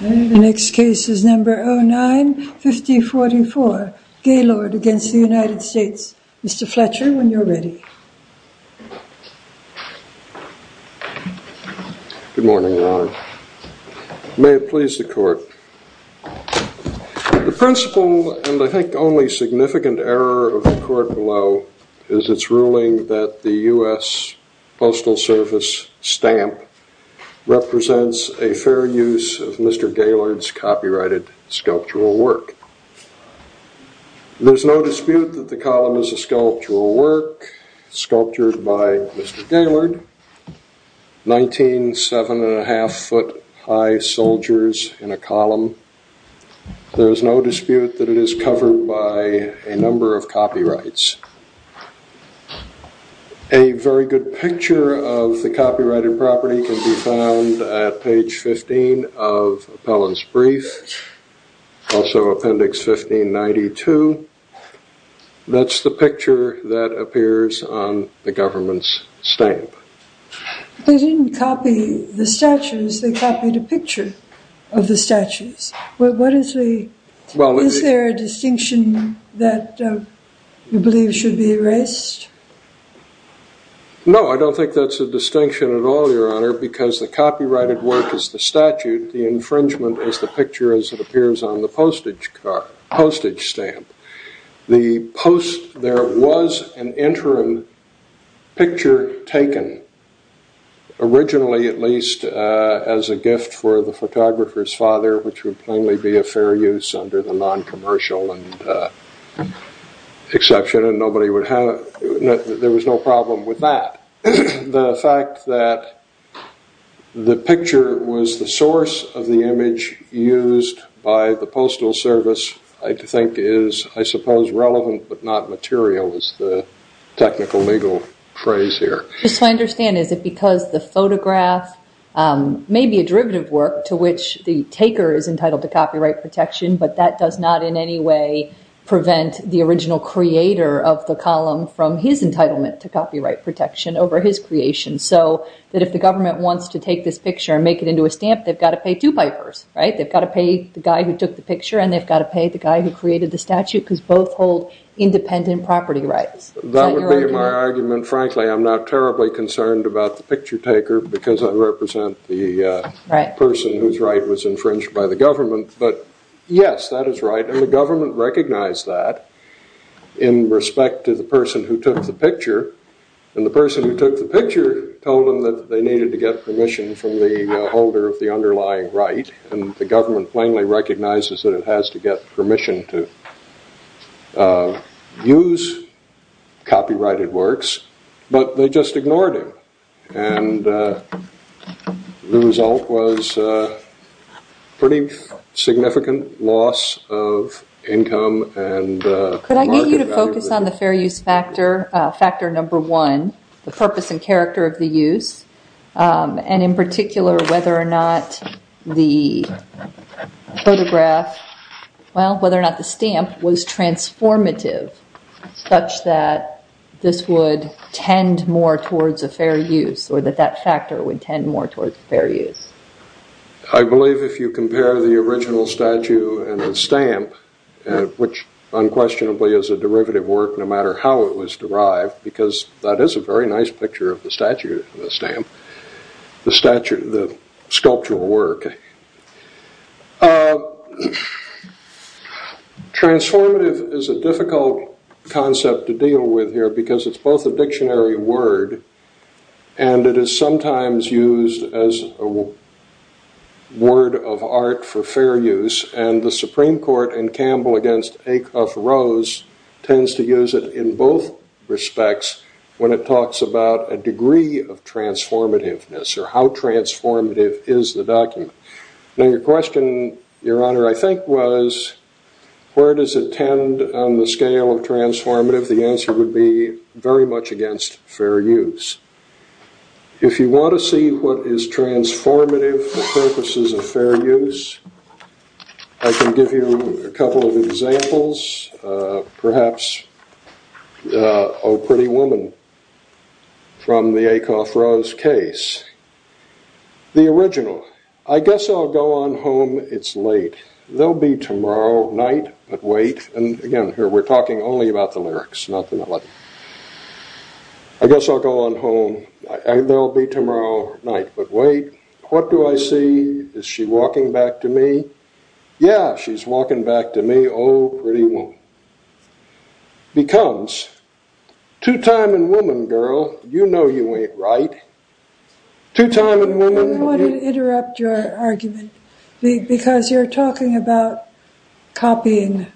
The next case is number 09-5044, Gaylord v. United States. Mr. Fletcher, when you're ready. Good morning, Your Honor. May it please the Court. The principal and, I think, only significant error of the Court below is its ruling that the U.S. Postal Service stamp represents a fair use of Mr. Gaylord's copyrighted sculptural work. There's no dispute that the column is a sculptural work, sculptured by Mr. Gaylord. Nineteen seven and a half foot high soldiers in a column. There is no dispute that it is covered by a number of copyrights. A very good picture of the copyrighted property can be found at page 15 of Appellant's brief, also appendix 1592. That's the picture that appears on the government's stamp. They didn't copy the statues, they copied a picture of the statues. What is the, is there a distinction that you believe should be erased? No, I don't think that's a distinction at all, Your Honor, because the copyrighted work is the statute, the infringement is the picture as it appears on the postage stamp. The post, there was an interim picture taken, originally at least as a gift for the photographer's father, which would plainly be a fair use under the non-commercial exception and nobody would have, there was no problem with that. The fact that the picture was the source of the image used by the Postal Service, I think is, I suppose, relevant but not material is the technical legal phrase here. Just so I understand, is it because the photograph may be a derivative work to which the taker is entitled to copyright protection, but that does not in any way prevent the original creator of the column from his entitlement to copyright protection over his creation? So that if the government wants to take this picture and make it into a stamp, they've got to pay two pipers, right? They've got to pay the guy who took the picture and they've got to pay the guy who created the statute because both hold independent property rights. That would be my argument. Frankly, I'm not terribly concerned about the picture taker because I represent the person whose right was infringed by the government. But yes, that is right. And the government recognized that in respect to the person who took the picture. And the person who took the picture told them that they needed to get permission from the holder of the underlying right and the government plainly recognizes that it has to get permission to use copyrighted works, but they just ignored him. And the result was a pretty significant loss of income. And could I get you to focus on the fair use factor, factor number one, the purpose and character of the use. And in particular, whether or not the photograph, well, whether or not the stamp was transformative such that this would tend more towards a fair use or that that factor would tend more towards fair use. I believe if you compare the original statue and the stamp, which unquestionably is a derivative work, no matter how it was derived, because that is a very nice picture of the sculptural work. Transformative is a difficult concept to deal with here because it's both a dictionary word and it is sometimes used as a word of art for fair use. And the Supreme Court in Campbell against Acuff-Rose tends to use it in both respects when it talks about a degree of transformativeness or how transformative is the document. Now, your question, Your Honor, I think was where does it tend on the scale of transformative? The answer would be very much against fair use. If you want to see what is transformative for purposes of fair use, I can give you a couple of examples, perhaps, Oh Pretty Woman from the Acuff-Rose case. The original, I guess I'll go on home, it's late, there'll be tomorrow night, but wait. And again, here we're talking only about the lyrics, not the melody. I guess I'll go on home, there'll be tomorrow night, but wait. What do I see? Is she walking back to me? Yeah, she's walking back to me, oh pretty woman. Because, two time and woman girl, you know you ain't right. Two time and woman. I want to interrupt your argument because you're talking about copying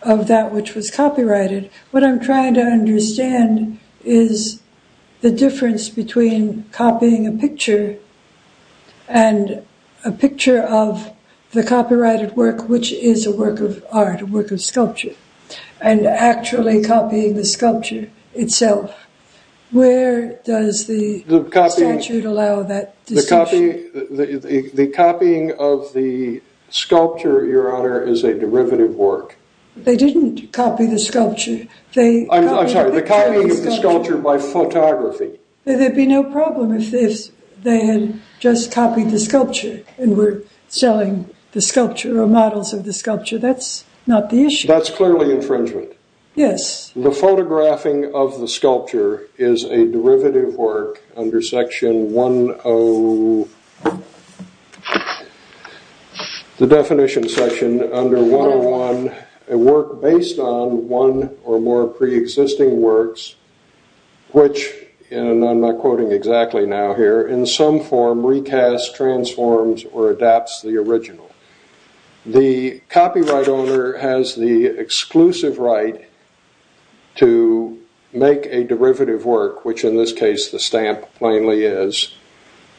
of that which was copyrighted. What I'm trying to understand is the difference between copying a the copyrighted work, which is a work of art, a work of sculpture, and actually copying the sculpture itself. Where does the statute allow that distinction? The copying of the sculpture, Your Honor, is a derivative work. They didn't copy the sculpture. I'm sorry, the copying of the sculpture by photography. There'd be no problem if they had just copied the sculpture and were selling the sculpture or models of the sculpture. That's not the issue. That's clearly infringement. Yes. The photographing of the sculpture is a derivative work under section 101, the definition section under 101, a work based on one or more pre-existing works, which, and I'm not quoting exactly now here, in some form recasts, transforms, or adapts the original. The copyright owner has the exclusive right to make a derivative work, which in this case the stamp plainly is,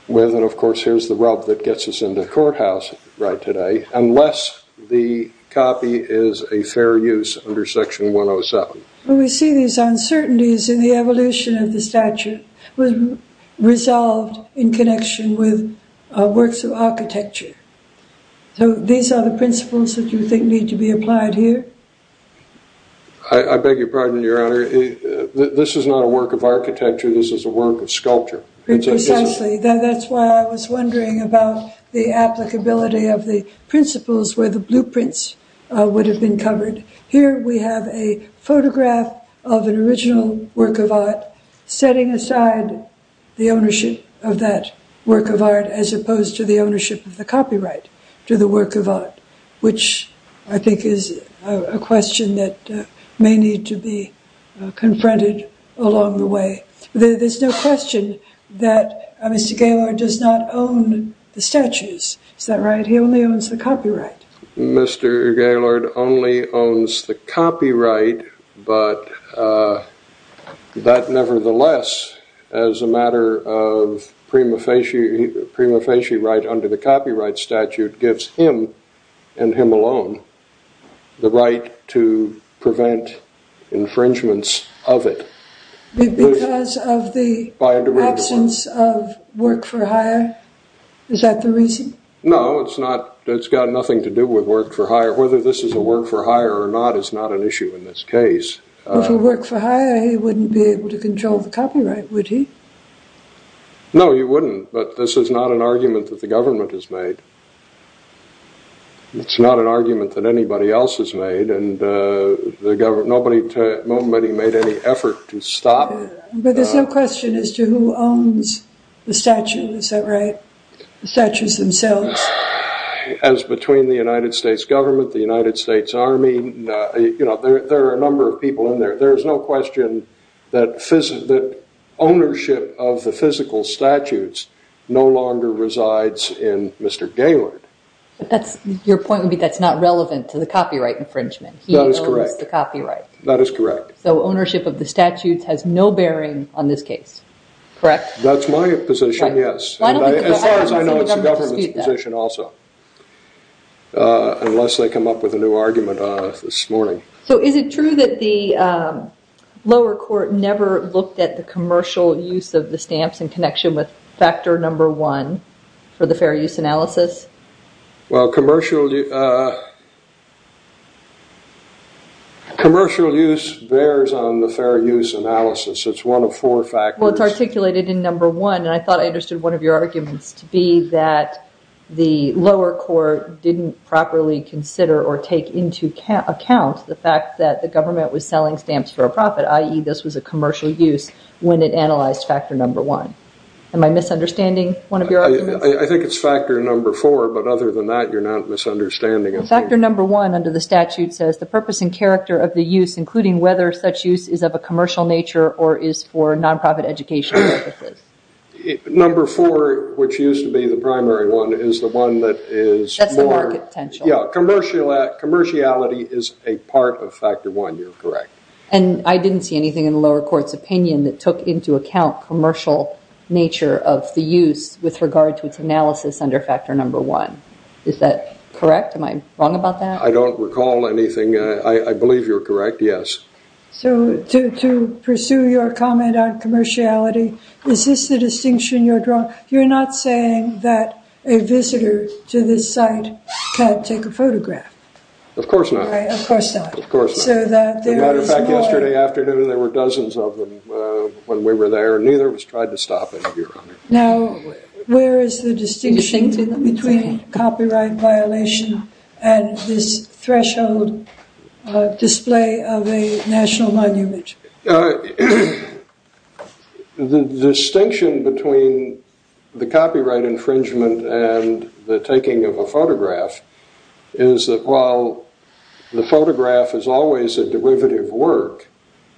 with and of course here's the rub that gets us into courthouse right today, unless the copy is a fair use under section 107. We see these uncertainties in the evolution of the statute was resolved in connection with works of architecture. So these are the principles that you think need to be applied here? I beg your pardon, Your Honor. This is not a work of architecture. This is a work of sculpture. Precisely. That's why I was wondering about the applicability of the principles where the blueprints would have been covered. Here we have a photograph of an original work of art, setting aside the ownership of that work of art as opposed to the ownership of the copyright to the work of art, which I think is a question that may need to be confronted along the way. There's no question that Mr. Gaylord does not own the statues. Is that right? He only owns the copyright. Mr. Gaylord only owns the copyright, but that nevertheless as a matter of prima facie right under the copyright statute gives him and him alone the right to prevent infringements of it. Because of the absence of work for hire? Is that the reason? No, it's not. It's got nothing to do with work for hire. Whether this is a work for hire or not is not an issue in this case. If he worked for hire, he wouldn't be able to control the copyright, would he? No, he wouldn't. But this is not an argument that the government has made. It's not an argument that anybody else has made and nobody made any effort to stop. But there's no question as to who owns the statue, is that right? The statues themselves? As between the United States government, the United States Army, there are a number of people in there. There's no question that ownership of the physical statutes no longer resides in Mr. Gaylord. Your point would be that's not relevant to the copyright infringement. He owns the copyright. That is correct. So ownership of the statutes has no bearing on this case, correct? That's my position, yes. As far as I know, it's the government's position also, unless they come up with a new argument this morning. So is it true that the lower court never looked at the commercial use of the stamps in connection with factor number one for the fair use analysis? Well, commercial use bears on the fair use analysis. It's one of four factors. Well, it's articulated in number one, and I thought I understood one of your arguments to be that the lower court didn't properly consider or take into account the fact that the government was selling stamps for a profit, this was a commercial use, when it analyzed factor number one. Am I misunderstanding one of your arguments? I think it's factor number four, but other than that, you're not misunderstanding anything. Factor number one under the statute says the purpose and character of the use, including whether such use is of a commercial nature or is for non-profit education purposes. Number four, which used to be the primary one, is the one that is more... That's the market potential. Yeah, commerciality is a part of commerciality. And I didn't see anything in the lower court's opinion that took into account commercial nature of the use with regard to its analysis under factor number one. Is that correct? Am I wrong about that? I don't recall anything. I believe you're correct, yes. So to pursue your comment on commerciality, is this the distinction you're drawing? You're not saying that a visitor to this site can't take a photograph? Of course not. Right, of course not. As a matter of fact, yesterday afternoon, there were dozens of them when we were there, and neither of us tried to stop it, Your Honor. Now, where is the distinction between copyright violation and this threshold display of a national monument? The distinction between the copyright infringement and the taking of a photograph is that while the photograph is always a derivative work,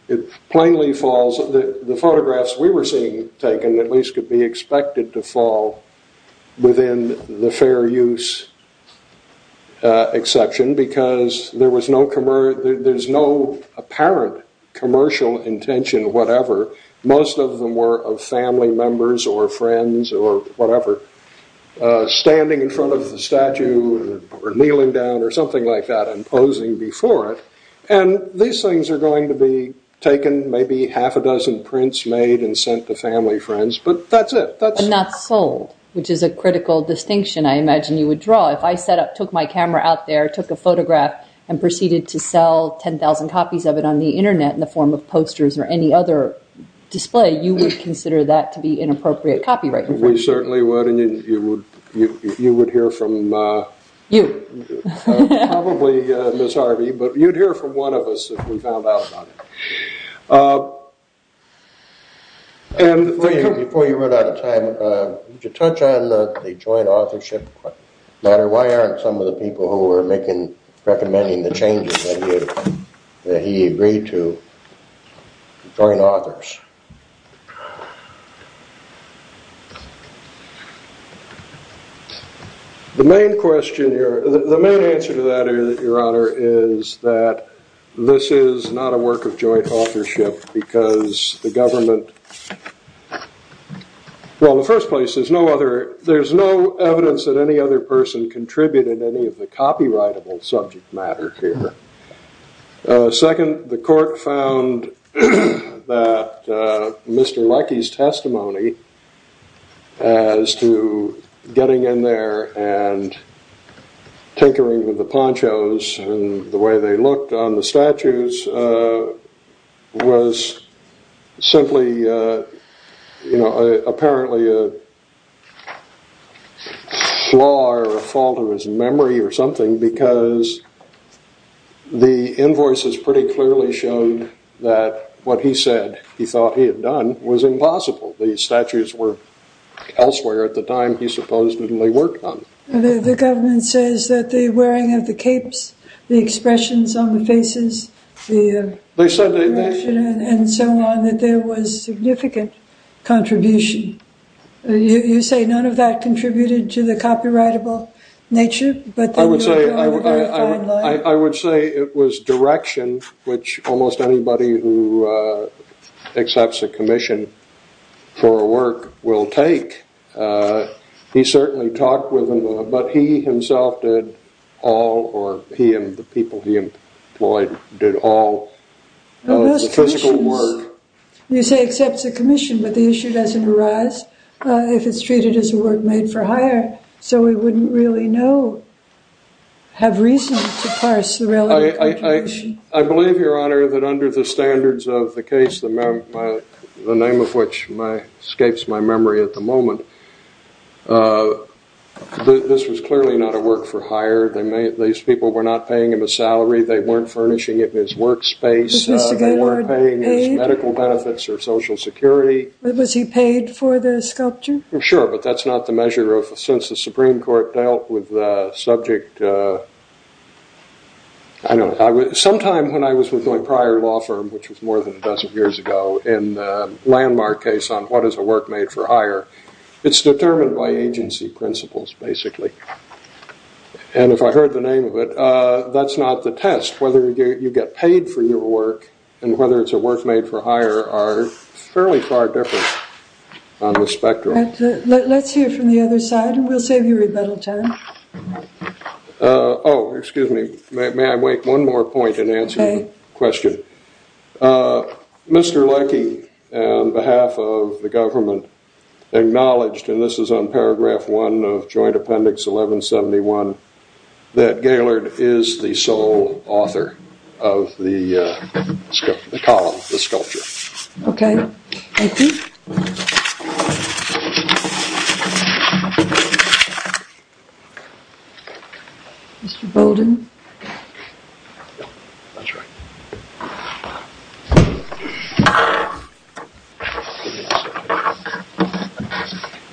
it plainly falls... The photographs we were seeing taken, at least, could be expected to fall within the fair use exception because there was no... There's no apparent commercial intention, whatever. Most of them were of family members or friends or whatever. Or standing in front of the statue or kneeling down or something like that and posing before it. And these things are going to be taken, maybe half a dozen prints made and sent to family friends, but that's it. But not sold, which is a critical distinction I imagine you would draw. If I set up, took my camera out there, took a photograph and proceeded to sell 10,000 copies of it on the internet in the form of posters or any other display, you would consider that to be a copyright infringement. You would hear from... You. Probably Ms. Harvey, but you'd hear from one of us if we found out about it. Before you run out of time, would you touch on the joint authorship matter? Why aren't some of the people who were recommending the changes that he agreed to join authors? The main answer to that, Your Honor, is that this is not a work of joint authorship because the government... Well, in the first place, there's no evidence that any other person contributed any of the copyrightable subject matter here. Second, the court found that Mr. Leckie's testimony as to getting in there and tinkering with the ponchos and the way they looked on the statues was simply apparently a flaw or a fault of his memory or something because the invoices pretty clearly showed that what he said he thought he had done was impossible. The statues were elsewhere at the time he supposedly worked on them. The government says that the wearing of the capes, the expressions on the faces, the... They said they... ...and so on, that there was significant contribution. You say none of that contributed to the copyrightable nature, but... I would say it was direction which almost anybody who accepts a commission for a work will take. He certainly talked with them, but he himself did all or he and the people he employed did all of the physical work. You say accepts a commission, but the issue doesn't arise if it's treated as a work made for a commission. Do you have reason to parse the relevant information? I believe, Your Honor, that under the standards of the case, the name of which escapes my memory at the moment, this was clearly not a work for hire. These people were not paying him a salary, they weren't furnishing him his workspace, they weren't paying his medical benefits or social security. Was he paid for the sculpture? Sure, but that's not the measure of... Since the Supreme Court dealt with the subject... Sometime when I was with my prior law firm, which was more than a dozen years ago, in the landmark case on what is a work made for hire, it's determined by agency principles, basically. And if I heard the name of it, that's not the test. Whether you get paid for your work and whether it's a work made for hire are fairly far different on the spectrum. Let's hear from the other side and we'll save you rebuttal time. Oh, excuse me. May I make one more point in answering the question? Mr. Leckie, on behalf of the government, acknowledged, and this is on paragraph one of joint appendix 1171, that Gaylord is the sole author of the column, the sculpture. Okay, thank you. Mr. Bowden?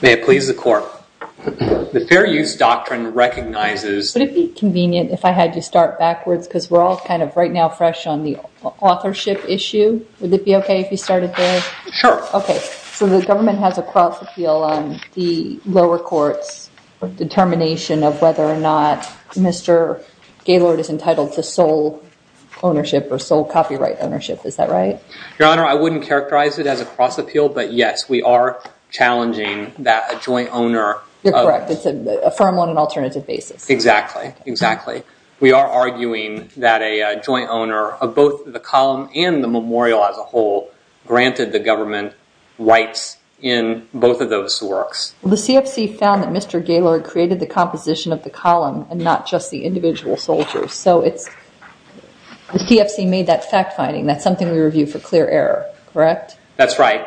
May it please the court. The Fair Use Doctrine recognizes... Would it be convenient if I had to start backwards? Because we're all kind of right now fresh on the authorship issue. Would it be okay if you started there? Sure. Okay. So the government has a cross appeal on the lower court's determination of whether or not Mr. Gaylord is entitled to sole ownership or sole copyright ownership. Is that right? Your Honor, I wouldn't characterize it as a cross appeal, but yes, we are challenging that a joint owner... You're correct. It's a firm on an alternative basis. Exactly. Exactly. We are arguing that a joint owner of both the column and the memorial as a rights in both of those works. The CFC found that Mr. Gaylord created the composition of the column and not just the individual soldiers. So the CFC made that fact finding. That's something we review for clear error, correct? That's right.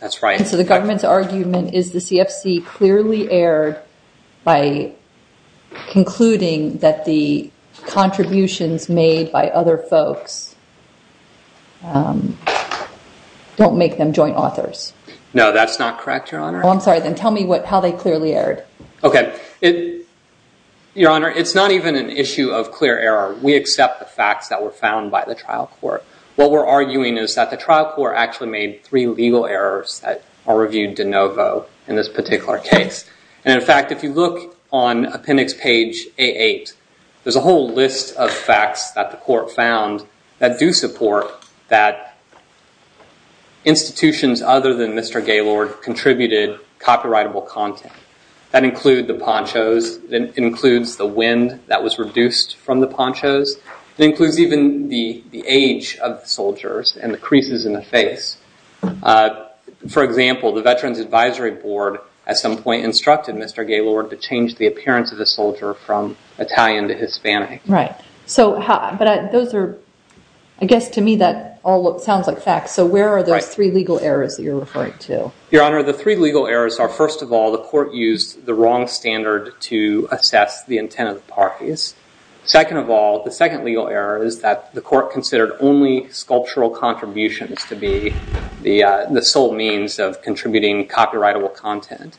That's right. And so the government's argument is the CFC clearly erred by concluding that the No, that's not correct, Your Honor. Oh, I'm sorry. Then tell me how they clearly erred. Okay. Your Honor, it's not even an issue of clear error. We accept the facts that were found by the trial court. What we're arguing is that the trial court actually made three legal errors that are reviewed de novo in this particular case. And in fact, if you look on appendix page A8, there's a whole list of facts that the court found that do support that institutions other than Mr. Gaylord contributed copyrightable content. That include the ponchos, that includes the wind that was reduced from the ponchos, that includes even the age of the soldiers and the creases in the face. For example, the Veterans Advisory Board at some point instructed Mr. Gaylord to change Right. But those are, I guess to me that all sounds like facts. So where are those three legal errors that you're referring to? Your Honor, the three legal errors are, first of all, the court used the wrong standard to assess the intent of the parties. Second of all, the second legal error is that the court considered only sculptural contributions to be the sole means of contributing copyrightable content.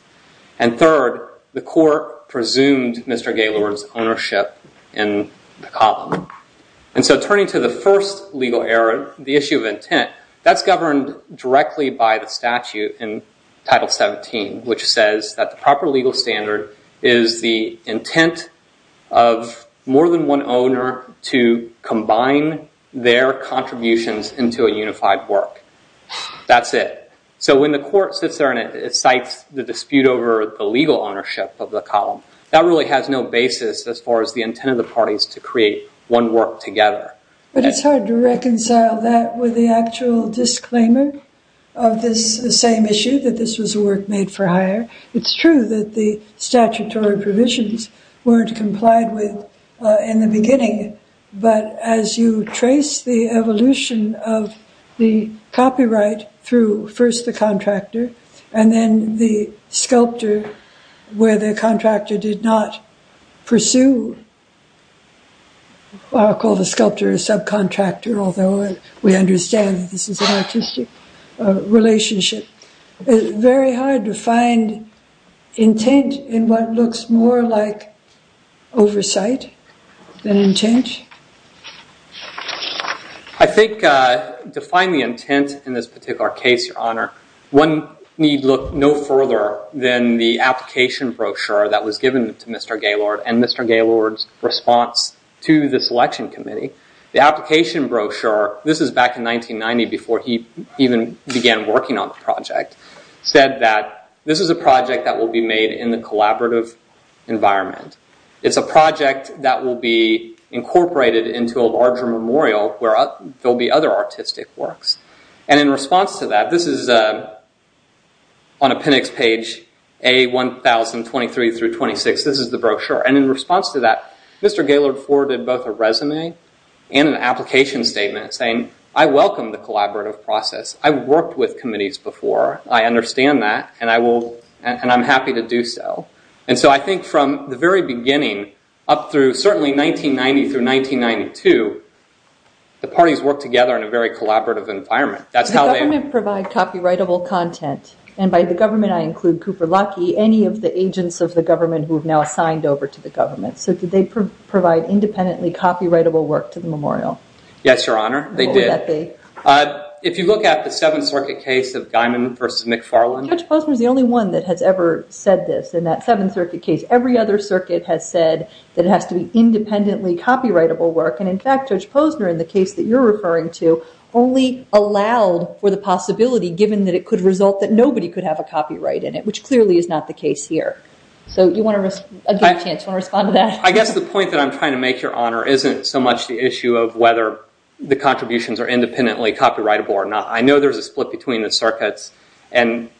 And third, the court presumed Mr. Gaylord to be the culprit. And so turning to the first legal error, the issue of intent, that's governed directly by the statute in Title 17, which says that the proper legal standard is the intent of more than one owner to combine their contributions into a unified work. That's it. So when the court sits there and it cites the dispute over the legal ownership of the intent of the parties to create one work together. But it's hard to reconcile that with the actual disclaimer of this same issue, that this was a work made for hire. It's true that the statutory provisions weren't complied with in the beginning. But as you trace the evolution of the copyright through first the contractor and then the sculptor where the contractor did not pursue, I'll call the sculptor a subcontractor, although we understand that this is an artistic relationship. It's very hard to find intent in what looks more like oversight than intent. I think to find the intent in this particular case, Your Honor, one need look no further than the application brochure that was given to Mr. Gaylord and Mr. Gaylord's response to the selection committee. The application brochure, this is back in 1990 before he even began working on the project, said that this is a project that will be made in the collaborative environment. It's a project that will be incorporated into a larger memorial where there'll be other artistic works. In response to that, this is on appendix page A1023 through 26. This is the brochure. In response to that, Mr. Gaylord forwarded both a resume and an application statement saying, I welcome the collaborative process. I've worked with committees before. I understand that and I'm happy to do so. I think from the very beginning up through certainly 1990 through 1992, the parties worked together in a very collaborative environment. Does the government provide copyrightable content? By the government, I include Cooper Locke, any of the agents of the government who have now signed over to the government. Did they provide independently copyrightable work to the memorial? Yes, Your Honor, they did. If you look at the Seventh Circuit case of Guymon versus McFarland. Judge Postman is the only one that has ever said this in that Seventh Circuit case. Every other Judge Postman in the case that you're referring to only allowed for the possibility given that it could result that nobody could have a copyright in it, which clearly is not the case here. You want to take a chance? You want to respond to that? I guess the point that I'm trying to make, Your Honor, isn't so much the issue of whether the contributions are independently copyrightable or not. I know there's a split between the circuits and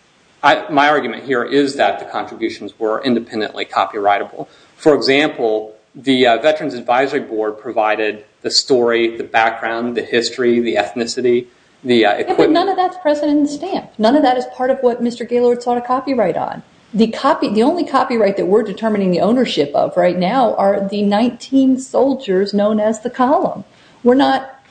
my argument here is that the contributions were independently copyrightable. For example, the Veterans Advisory Board provided the story, the background, the history, the ethnicity, the equipment. None of that's present in the stamp. None of that is part of what Mr. Gaylord sought a copyright on. The only copyright that we're determining the ownership of right now are the 19 soldiers known as the column.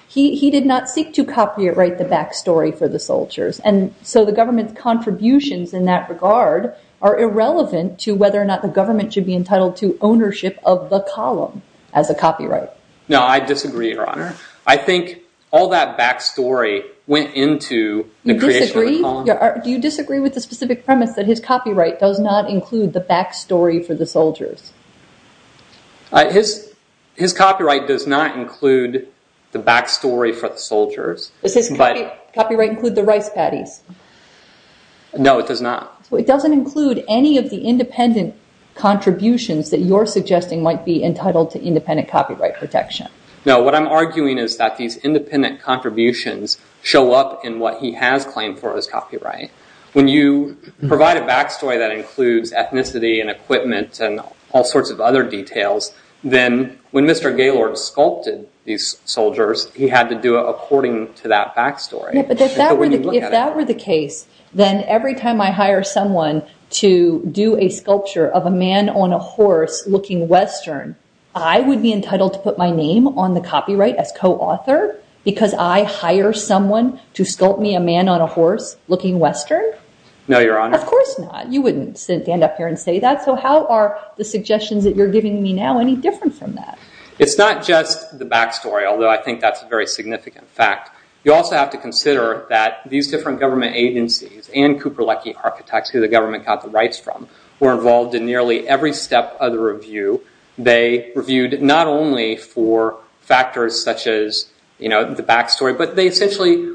He did not seek to copyright the back story for the soldiers. The government's contributions in that regard are irrelevant to whether or not the government should be entitled to ownership of the column as a copyright. No, I disagree, Your Honor. I think all that back story went into the creation of the column. Do you disagree with the specific premise that his copyright does not include the back story for the soldiers? His copyright does not include the back story for the soldiers. Does his copyright include the rice patties? No, it does not. It doesn't include any of the independent contributions that you're suggesting might be entitled to independent copyright protection. No, what I'm arguing is that these independent contributions show up in what he has claimed for his copyright. When you provide a back story that includes ethnicity and equipment and all sorts of other details, then when Mr. Gaylord sculpted these soldiers, he had to do it according to that back story. If that were the case, then every time I hire someone to do a sculpture of a man on a horse looking Western, I would be entitled to put my name on the copyright as co-author because I hire someone to sculpt me a man on a horse looking Western? No, Your Honor. Of course not. You wouldn't stand up here and say that. How are the suggestions that you're giving me now any different from that? It's not just the back story, although I think that's a very significant fact. You also have to consider that these different government agencies and Cooper Leckie architects, who the government got the rights from, were involved in nearly every step of the review. They reviewed not only for factors such as the back story, but they essentially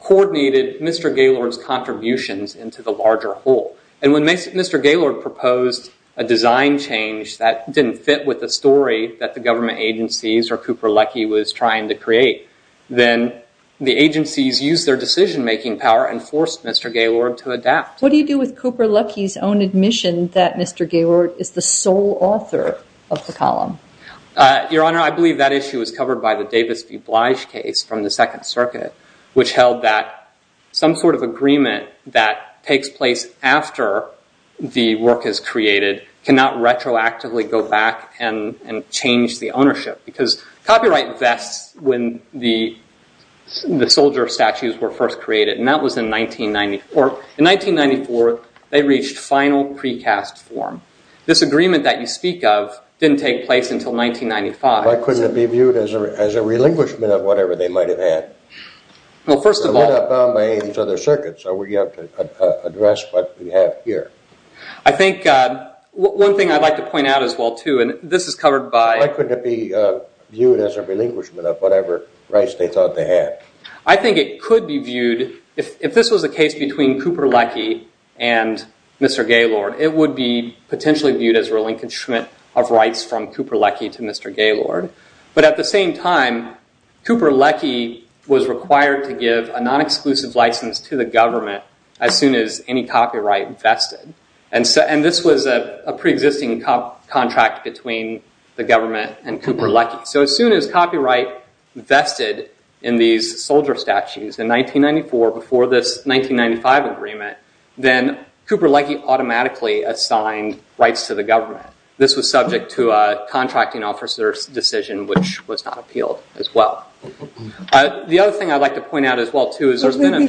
coordinated Mr. Gaylord's contributions into the larger whole. When Mr. Gaylord proposed a design change that didn't fit with the story that the government agencies or Cooper Leckie was trying to create, then the agencies used their decision-making power and forced Mr. Gaylord to adapt. What do you do with Cooper Leckie's own admission that Mr. Gaylord is the sole author of the column? Your Honor, I believe that issue was covered by the Davis v. Blige case from the Second Circuit, which held that some sort of agreement that takes place after the work is created cannot retroactively go back and change the ownership. Because copyright vests, when the soldier statues were first created, and that was in 1994. In 1994, they reached final precast form. This agreement that you speak of didn't take place until 1995. Why couldn't it be viewed as a relinquishment of whatever they might have had? Well, first of all- They're not bound by any of these other circuits, so we have to address what we have here. I think one thing I'd like to point out as well, too, and this is covered by- Why couldn't it be viewed as a relinquishment of whatever rights they thought they had? I think it could be viewed, if this was a case between Cooper Leckie and Mr. Gaylord, it would be potentially viewed as relinquishment of rights from Cooper Leckie to Mr. Gaylord. But at the same time, Cooper Leckie was required to give a non-exclusive license to the government as soon as any copyright vested. This was a pre-existing contract between the government and Cooper Leckie. As soon as copyright vested in these soldier statues in 1994 before this 1995 agreement, then Cooper Leckie automatically assigned rights to the government. This was subject to a contracting officer's decision, which was not appealed as well. The other thing I'd like to point out as well, too, is there's been a-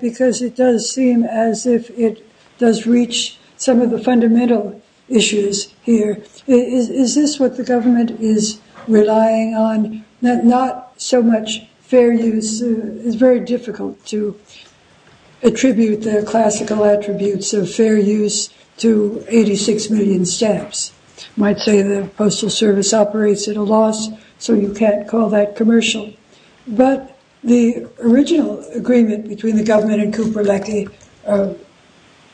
Because it does seem as if it does reach some of the fundamental issues here. Is this what the government is relying on? Not so much fair use. It's very difficult to attribute the classical attributes of fair use to 86 million stamps. Might say the Postal Service operates at a loss, so you can't call that commercial. But the original agreement between the government and Cooper Leckie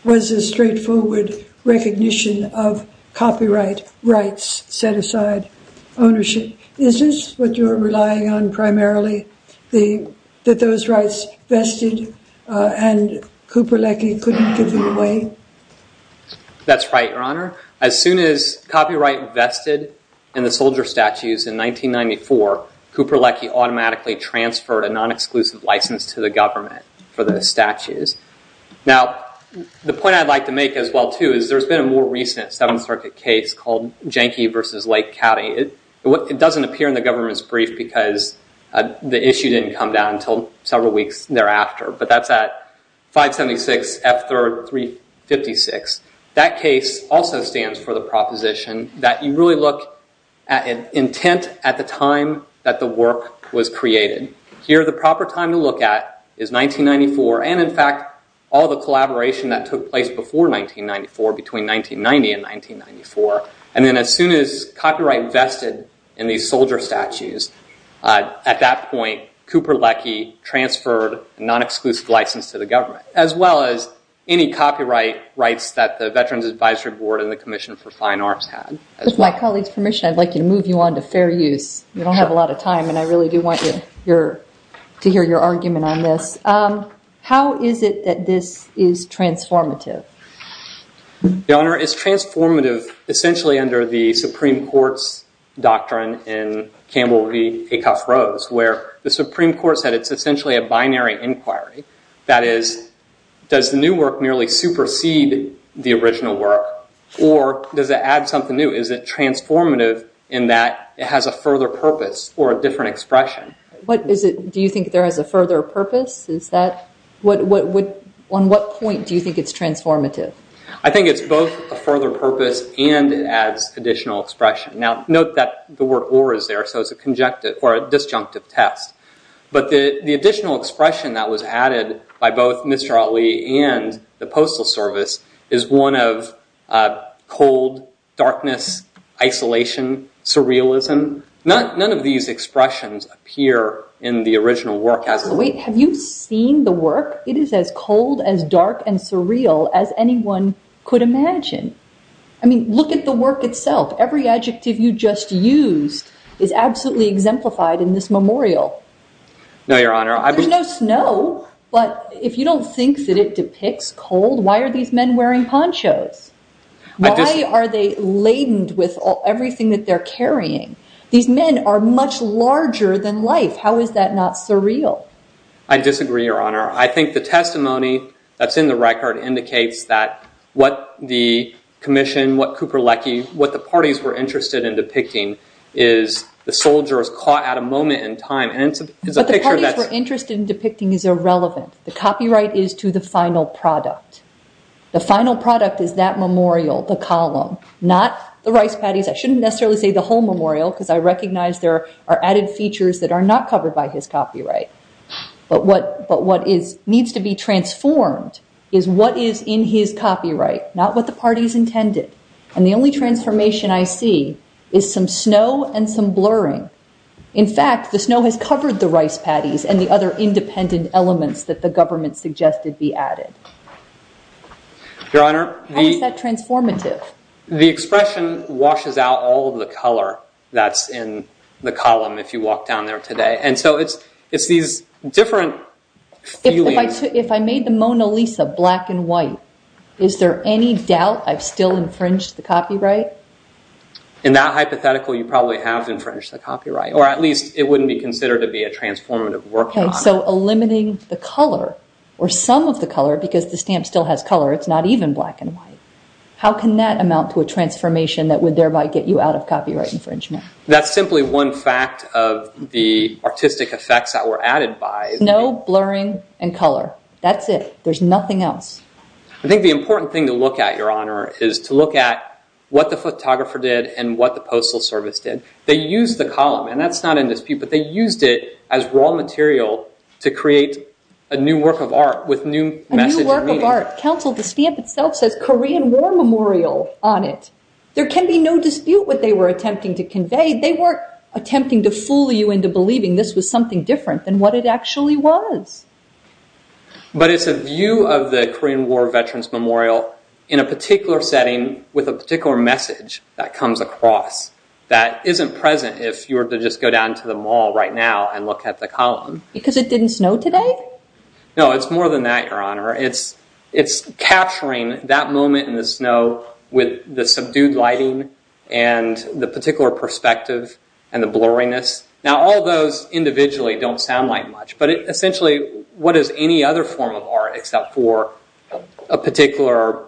was a straightforward recognition of copyright rights set aside ownership. Is this what you're relying on primarily, that those rights vested and Cooper Leckie couldn't give them away? That's right, Your Honor. As soon as copyright vested in the soldier statues in 1994, Cooper Leckie automatically transferred a non-exclusive license to the government for the statues. Now, the point I'd like to make as well, too, is there's been a more recent Seventh Circuit case called Jenke v. Lake County. It doesn't appear in the government's brief because the issue didn't come down until several weeks thereafter, but that's at 576 F. 3rd, 356. That case also stands for the proposition that you really look at an intent at the time that the work was created. Here, the proper time to look at is 1994, and in fact, all the collaboration that took place before 1994, between 1990 and 1994. And then as soon as copyright vested in these soldier statues, at that point, Cooper Leckie transferred a non-exclusive license to the government, as well as any copyright rights that the Veterans Advisory Board and the Commission for Fine Arts had. With my colleague's permission, I'd like to move you on to fair use. We don't have a lot of time, and I really do want to hear your argument on this. How is it that this is transformative? Your Honor, it's transformative essentially under the Supreme Court's doctrine in Campbell v. Acuff-Rose, where the Supreme Court said it's essentially a binary inquiry. That is, does the new work merely supersede the original work, or does it add something new? Is it transformative in that it has a further purpose or a different expression? Do you think there is a further purpose? On what point do you think it's transformative? I think it's both a further purpose and it adds additional expression. Now, note that the word or is there, so it's a disjunctive test. The additional expression that was added by both Mr. Ali and the Postal Service is one of cold, darkness, isolation, surrealism. None of these expressions appear in the original work. Have you seen the work? It is as cold, as dark, and surreal as anyone could imagine. Look at the work itself. Every adjective you just used is absolutely exemplified in this memorial. No, Your Honor. There's no snow, but if you don't think that it depicts cold, why are these men wearing ponchos? Why are they laden with everything that they're carrying? These men are much larger than life. How is that not surreal? I disagree, Your Honor. I think the testimony that's in the record indicates that what the commission, what Cooper-Leckie, what the parties were interested in depicting is the soldiers caught at a moment in time. It's a picture that's- But the parties were interested in depicting is irrelevant. The copyright is to the final product. The final product is that memorial, the column, not the rice patties. I shouldn't necessarily say the whole memorial because I recognize there are added features that are not covered by his copyright. But what needs to be transformed is what is in his copyright, not what the party's snow and some blurring. In fact, the snow has covered the rice patties and the other independent elements that the government suggested be added. Your Honor, the- How is that transformative? The expression washes out all of the color that's in the column if you walk down there today. And so it's these different feelings- If I made the Mona Lisa black and white, is there any doubt I've still infringed the copyright? In that hypothetical, you probably have infringed the copyright, or at least it wouldn't be considered to be a transformative work, Your Honor. So eliminating the color or some of the color because the stamp still has color, it's not even black and white. How can that amount to a transformation that would thereby get you out of copyright infringement? That's simply one fact of the artistic effects that were added by- Snow, blurring, and color. That's it. There's nothing else. I think the important thing to look at, Your Honor, is to look at what the photographer did and what the postal service did. They used the column, and that's not in dispute, but they used it as raw material to create a new work of art with new message and meaning. Counsel, the stamp itself says, Korean War Memorial on it. There can be no dispute what they were attempting to convey. They weren't attempting to fool you into believing this was something different than what it actually was. But it's a view of the Korean War Veterans Memorial in a particular setting with a particular message that comes across that isn't present if you were to just go down to the mall right now and look at the column. Because it didn't snow today? No, it's more than that, Your Honor. It's capturing that moment in the snow with the subdued lighting and the particular perspective and the blurriness. Now, all those individually don't sound like much, but essentially, what is any other form of art except for a particular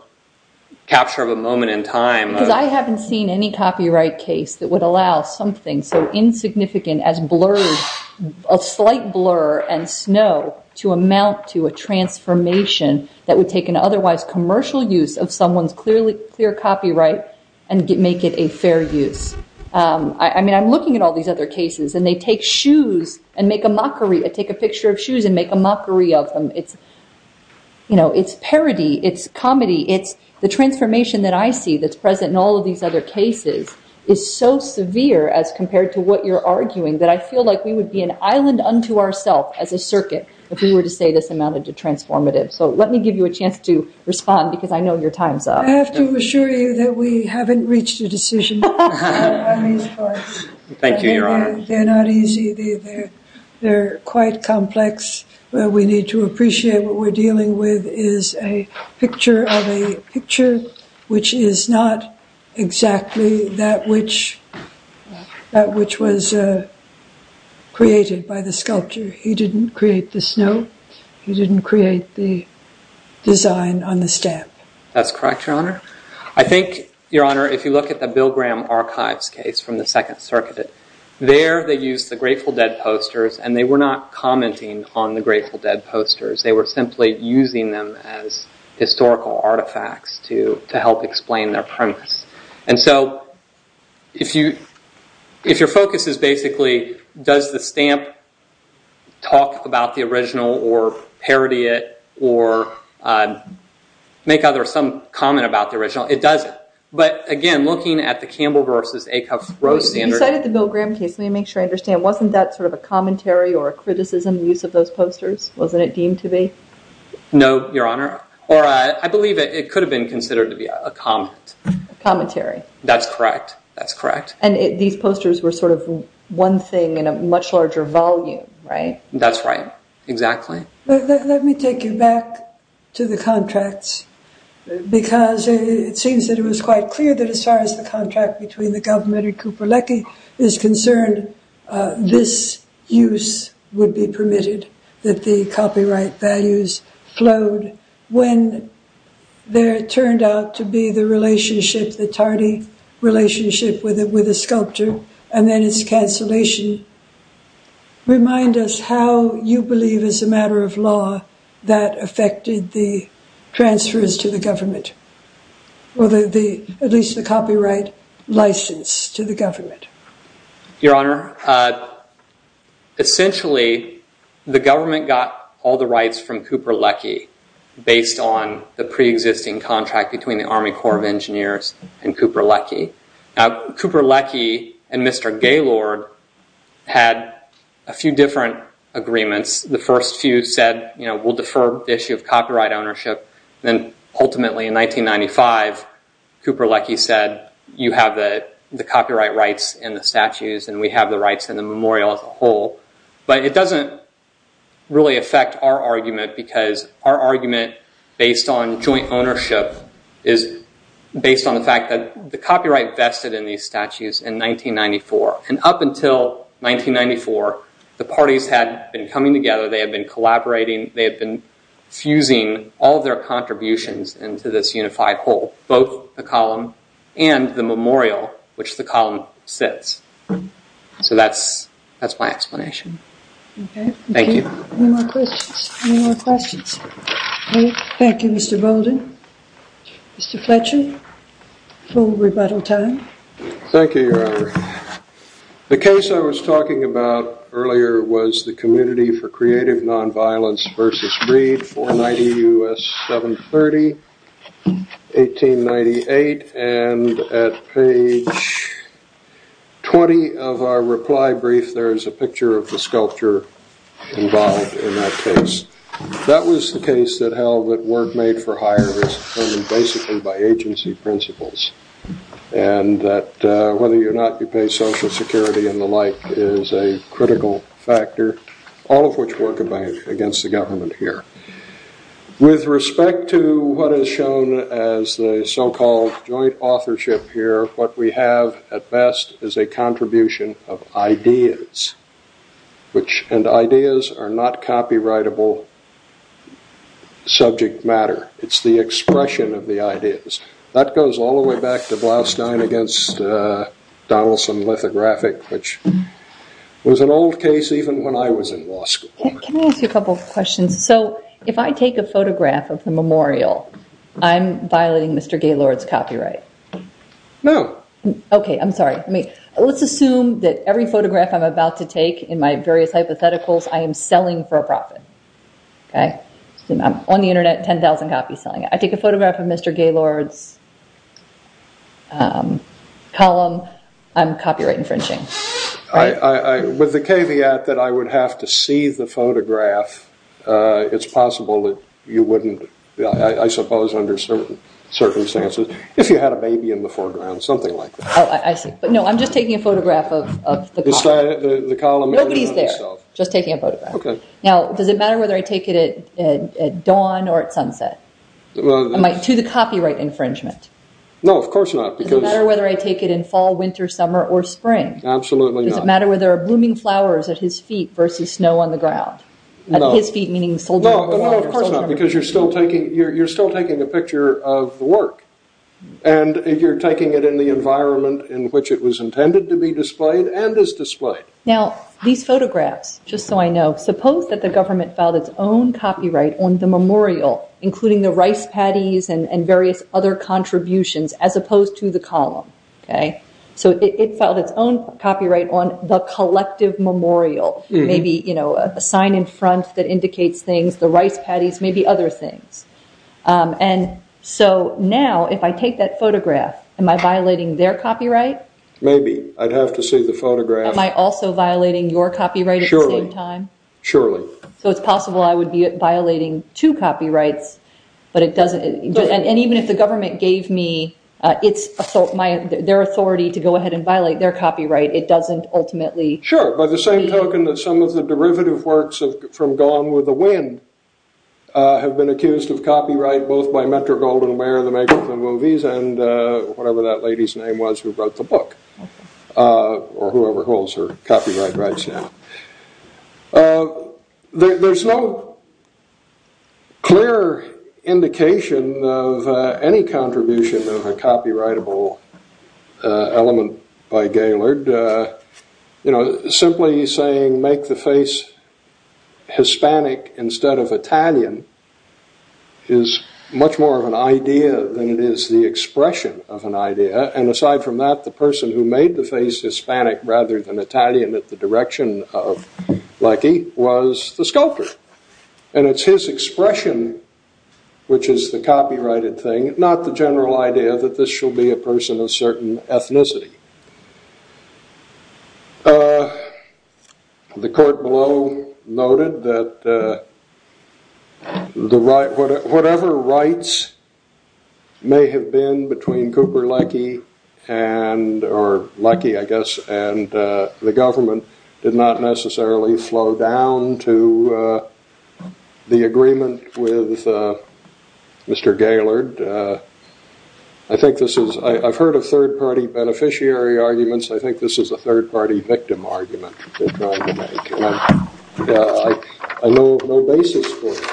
capture of a moment in time? Because I haven't seen any copyright case that would allow something so insignificant as a slight blur and snow to amount to a transformation that would take an otherwise commercial use of someone's clear copyright and make it a fair use. I'm looking at all these other cases, and they take a picture of shoes and make a mockery of them. It's parody. It's comedy. It's the transformation that I see that's present in all of these other cases is so severe as compared to what you're arguing that I feel like we would be an island unto ourself as a circuit if we were to say this amounted to transformative. So let me give you a chance to respond because I know your time's up. I have to assure you that we haven't reached a decision on these parts. Thank you, Your Honor. They're not easy. They're quite complex. We need to appreciate what we're dealing with is a picture of a picture which is not exactly that which was created by the sculptor. He didn't create the snow. He didn't create the design on the stamp. That's correct, Your Honor. I think, Your Honor, if you look at the Bill Graham archives case from 2nd Circuit, there they used the Grateful Dead posters, and they were not commenting on the Grateful Dead posters. They were simply using them as historical artifacts to help explain their premise. If your focus is basically does the stamp talk about the original or parody it or make some comment about the original, it doesn't. But again, looking at the Campbell versus Acuff-Rose standard... You cited the Bill Graham case. Let me make sure I understand. Wasn't that sort of a commentary or a criticism use of those posters? Wasn't it deemed to be? No, Your Honor. Or I believe it could have been considered to be a comment. A commentary. That's correct. That's correct. And these posters were sort of one thing in a much larger volume, right? That's right. Exactly. Let me take you back to the contracts, because it seems that it was quite clear that as far as the contract between the government and Kuperleke is concerned, this use would be permitted, that the copyright values flowed when there turned out to be the relationship, the tardy relationship with a sculptor, and then its cancellation. Remind us how you believe as a matter of law that affected the transfers to the government, or at least the copyright license to the government. Your Honor, essentially, the government got all the rights from Kuperleke based on the pre-existing contract between the Army Corps of Engineers and Kuperleke. Now, Kuperleke and Mr. Gaylord had a few different agreements. The first few said, we'll defer the issue of copyright ownership. Then ultimately, in 1995, Kuperleke said, you have the copyright rights in the statues, and we have the rights in the memorial as a whole. But it doesn't really affect our argument, because our argument based on joint ownership is based on the fact that the copyright vested in these statues in 1994. Up until 1994, the parties had been coming together. They had been collaborating. They had been fusing all of their contributions into this unified whole, both the column and the memorial, which the column sits. So that's my explanation. Okay. Thank you. Any more questions? Any more questions? Thank you, Mr. Bolden. Mr. Fletcher, full rebuttal time. Thank you, Your Honor. The case I was talking about earlier was the Community for Creative Nonviolence versus Breed, 490 U.S. 730, 1898. And at page 20 of our reply brief, there is a picture of the sculpture involved in that case. That was the case that held that work made for hire was determined basically by agency principles, and that whether or not you pay Social Security and the like is a critical factor, all of which work against the government here. With respect to what is shown as the so-called joint authorship here, what we have at best is a contribution of ideas, and ideas are not copyrightable subject matter. It's the expression of the ideas. That goes all the way back to Blaustein against Donaldson Lithographic, which was an old case even when I was in law school. Can I ask you a couple of questions? So if I take a photograph of the memorial, I'm violating Mr. Gaylord's copyright? No. Okay, I'm sorry. Let's assume that every photograph I'm about to take in my various hypotheticals, I am selling for a profit, okay? I'm on the internet, 10,000 copies selling. I take a photograph of Mr. Gaylord's column, I'm copyright infringing. With the caveat that I would have to see the photograph, it's possible that you wouldn't, I suppose under certain circumstances, if you had a baby in the foreground, something like that. Oh, I see. No, I'm just taking a photograph of the column. Nobody's there. Just taking a photograph. Now, does it matter whether I take it at dawn or at sunset? To the copyright infringement? No, of course not. Does it matter whether I take it in fall, winter, summer, or spring? Absolutely not. Does it matter whether there are blooming flowers at his feet versus snow on the ground? His feet meaning soldiers? No, of course not, because you're still taking a picture of the work, and you're taking it in the environment in which it was intended to be displayed and is displayed. Now, these photographs, just so I know, suppose that the government filed its own copyright on the memorial, including the rice patties and various other contributions, as opposed to the column. So it filed its own copyright on the collective memorial, maybe a sign in front that indicates things, the rice patties, maybe other things. And so now, if I take that photograph, am I violating their copyright? Maybe. I'd have to see the photograph. Am I also violating your copyright at the same time? Surely. So it's possible I would be violating two copyrights, and even if the government gave me their authority to go ahead and violate their copyright, it doesn't ultimately- Sure. By the same token that some of the derivative works from Gone with the Wind have been accused of copyright, both by Metro-Goldenware, the maker of the movies, and whatever that lady's name was who wrote the book, or whoever holds her copyright rights now. There's no clear indication of any contribution of a copyrightable element by Gaylord. You know, simply saying make the face Hispanic instead of Italian is much more of an idea than it is the expression of an idea. And aside from that, the person who made the face Hispanic rather than Italian at the direction of Leckie was the sculptor. And it's his expression, which is the copyrighted thing, not the general idea that this shall be a person of certain ethnicity. The court below noted that whatever rights may have been between Cooper Leckie and- or Leckie, I guess, and the government did not necessarily flow down to the agreement with Mr. Gaylord. I think this is- I've heard of third party beneficiary arguments. I think this is a third party victim argument they're trying to make. And I know no basis for it.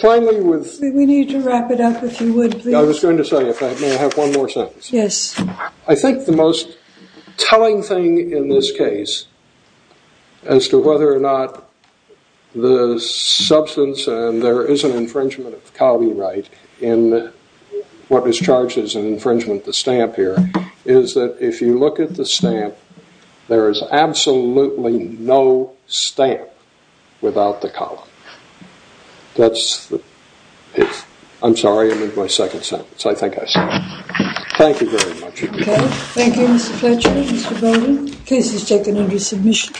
Finally, with- We need to wrap it up, if you would, please. I was going to say, if I may, I have one more sentence. Yes. I think the most telling thing in this case as to whether or not the substance, and there is an infringement of copyright in what is charged as an infringement of the stamp here, is that if you look at the stamp, there is absolutely no stamp without the column. That's the- I'm sorry. It was my second sentence. I think I said it. Thank you very much. Okay. Thank you, Mr. Fletcher, Mr. Bowden. The case is taken under submission.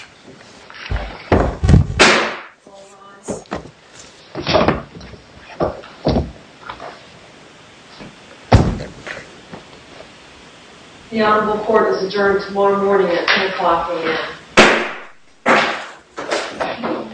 The honorable court is adjourned tomorrow morning at 10 o'clock a.m.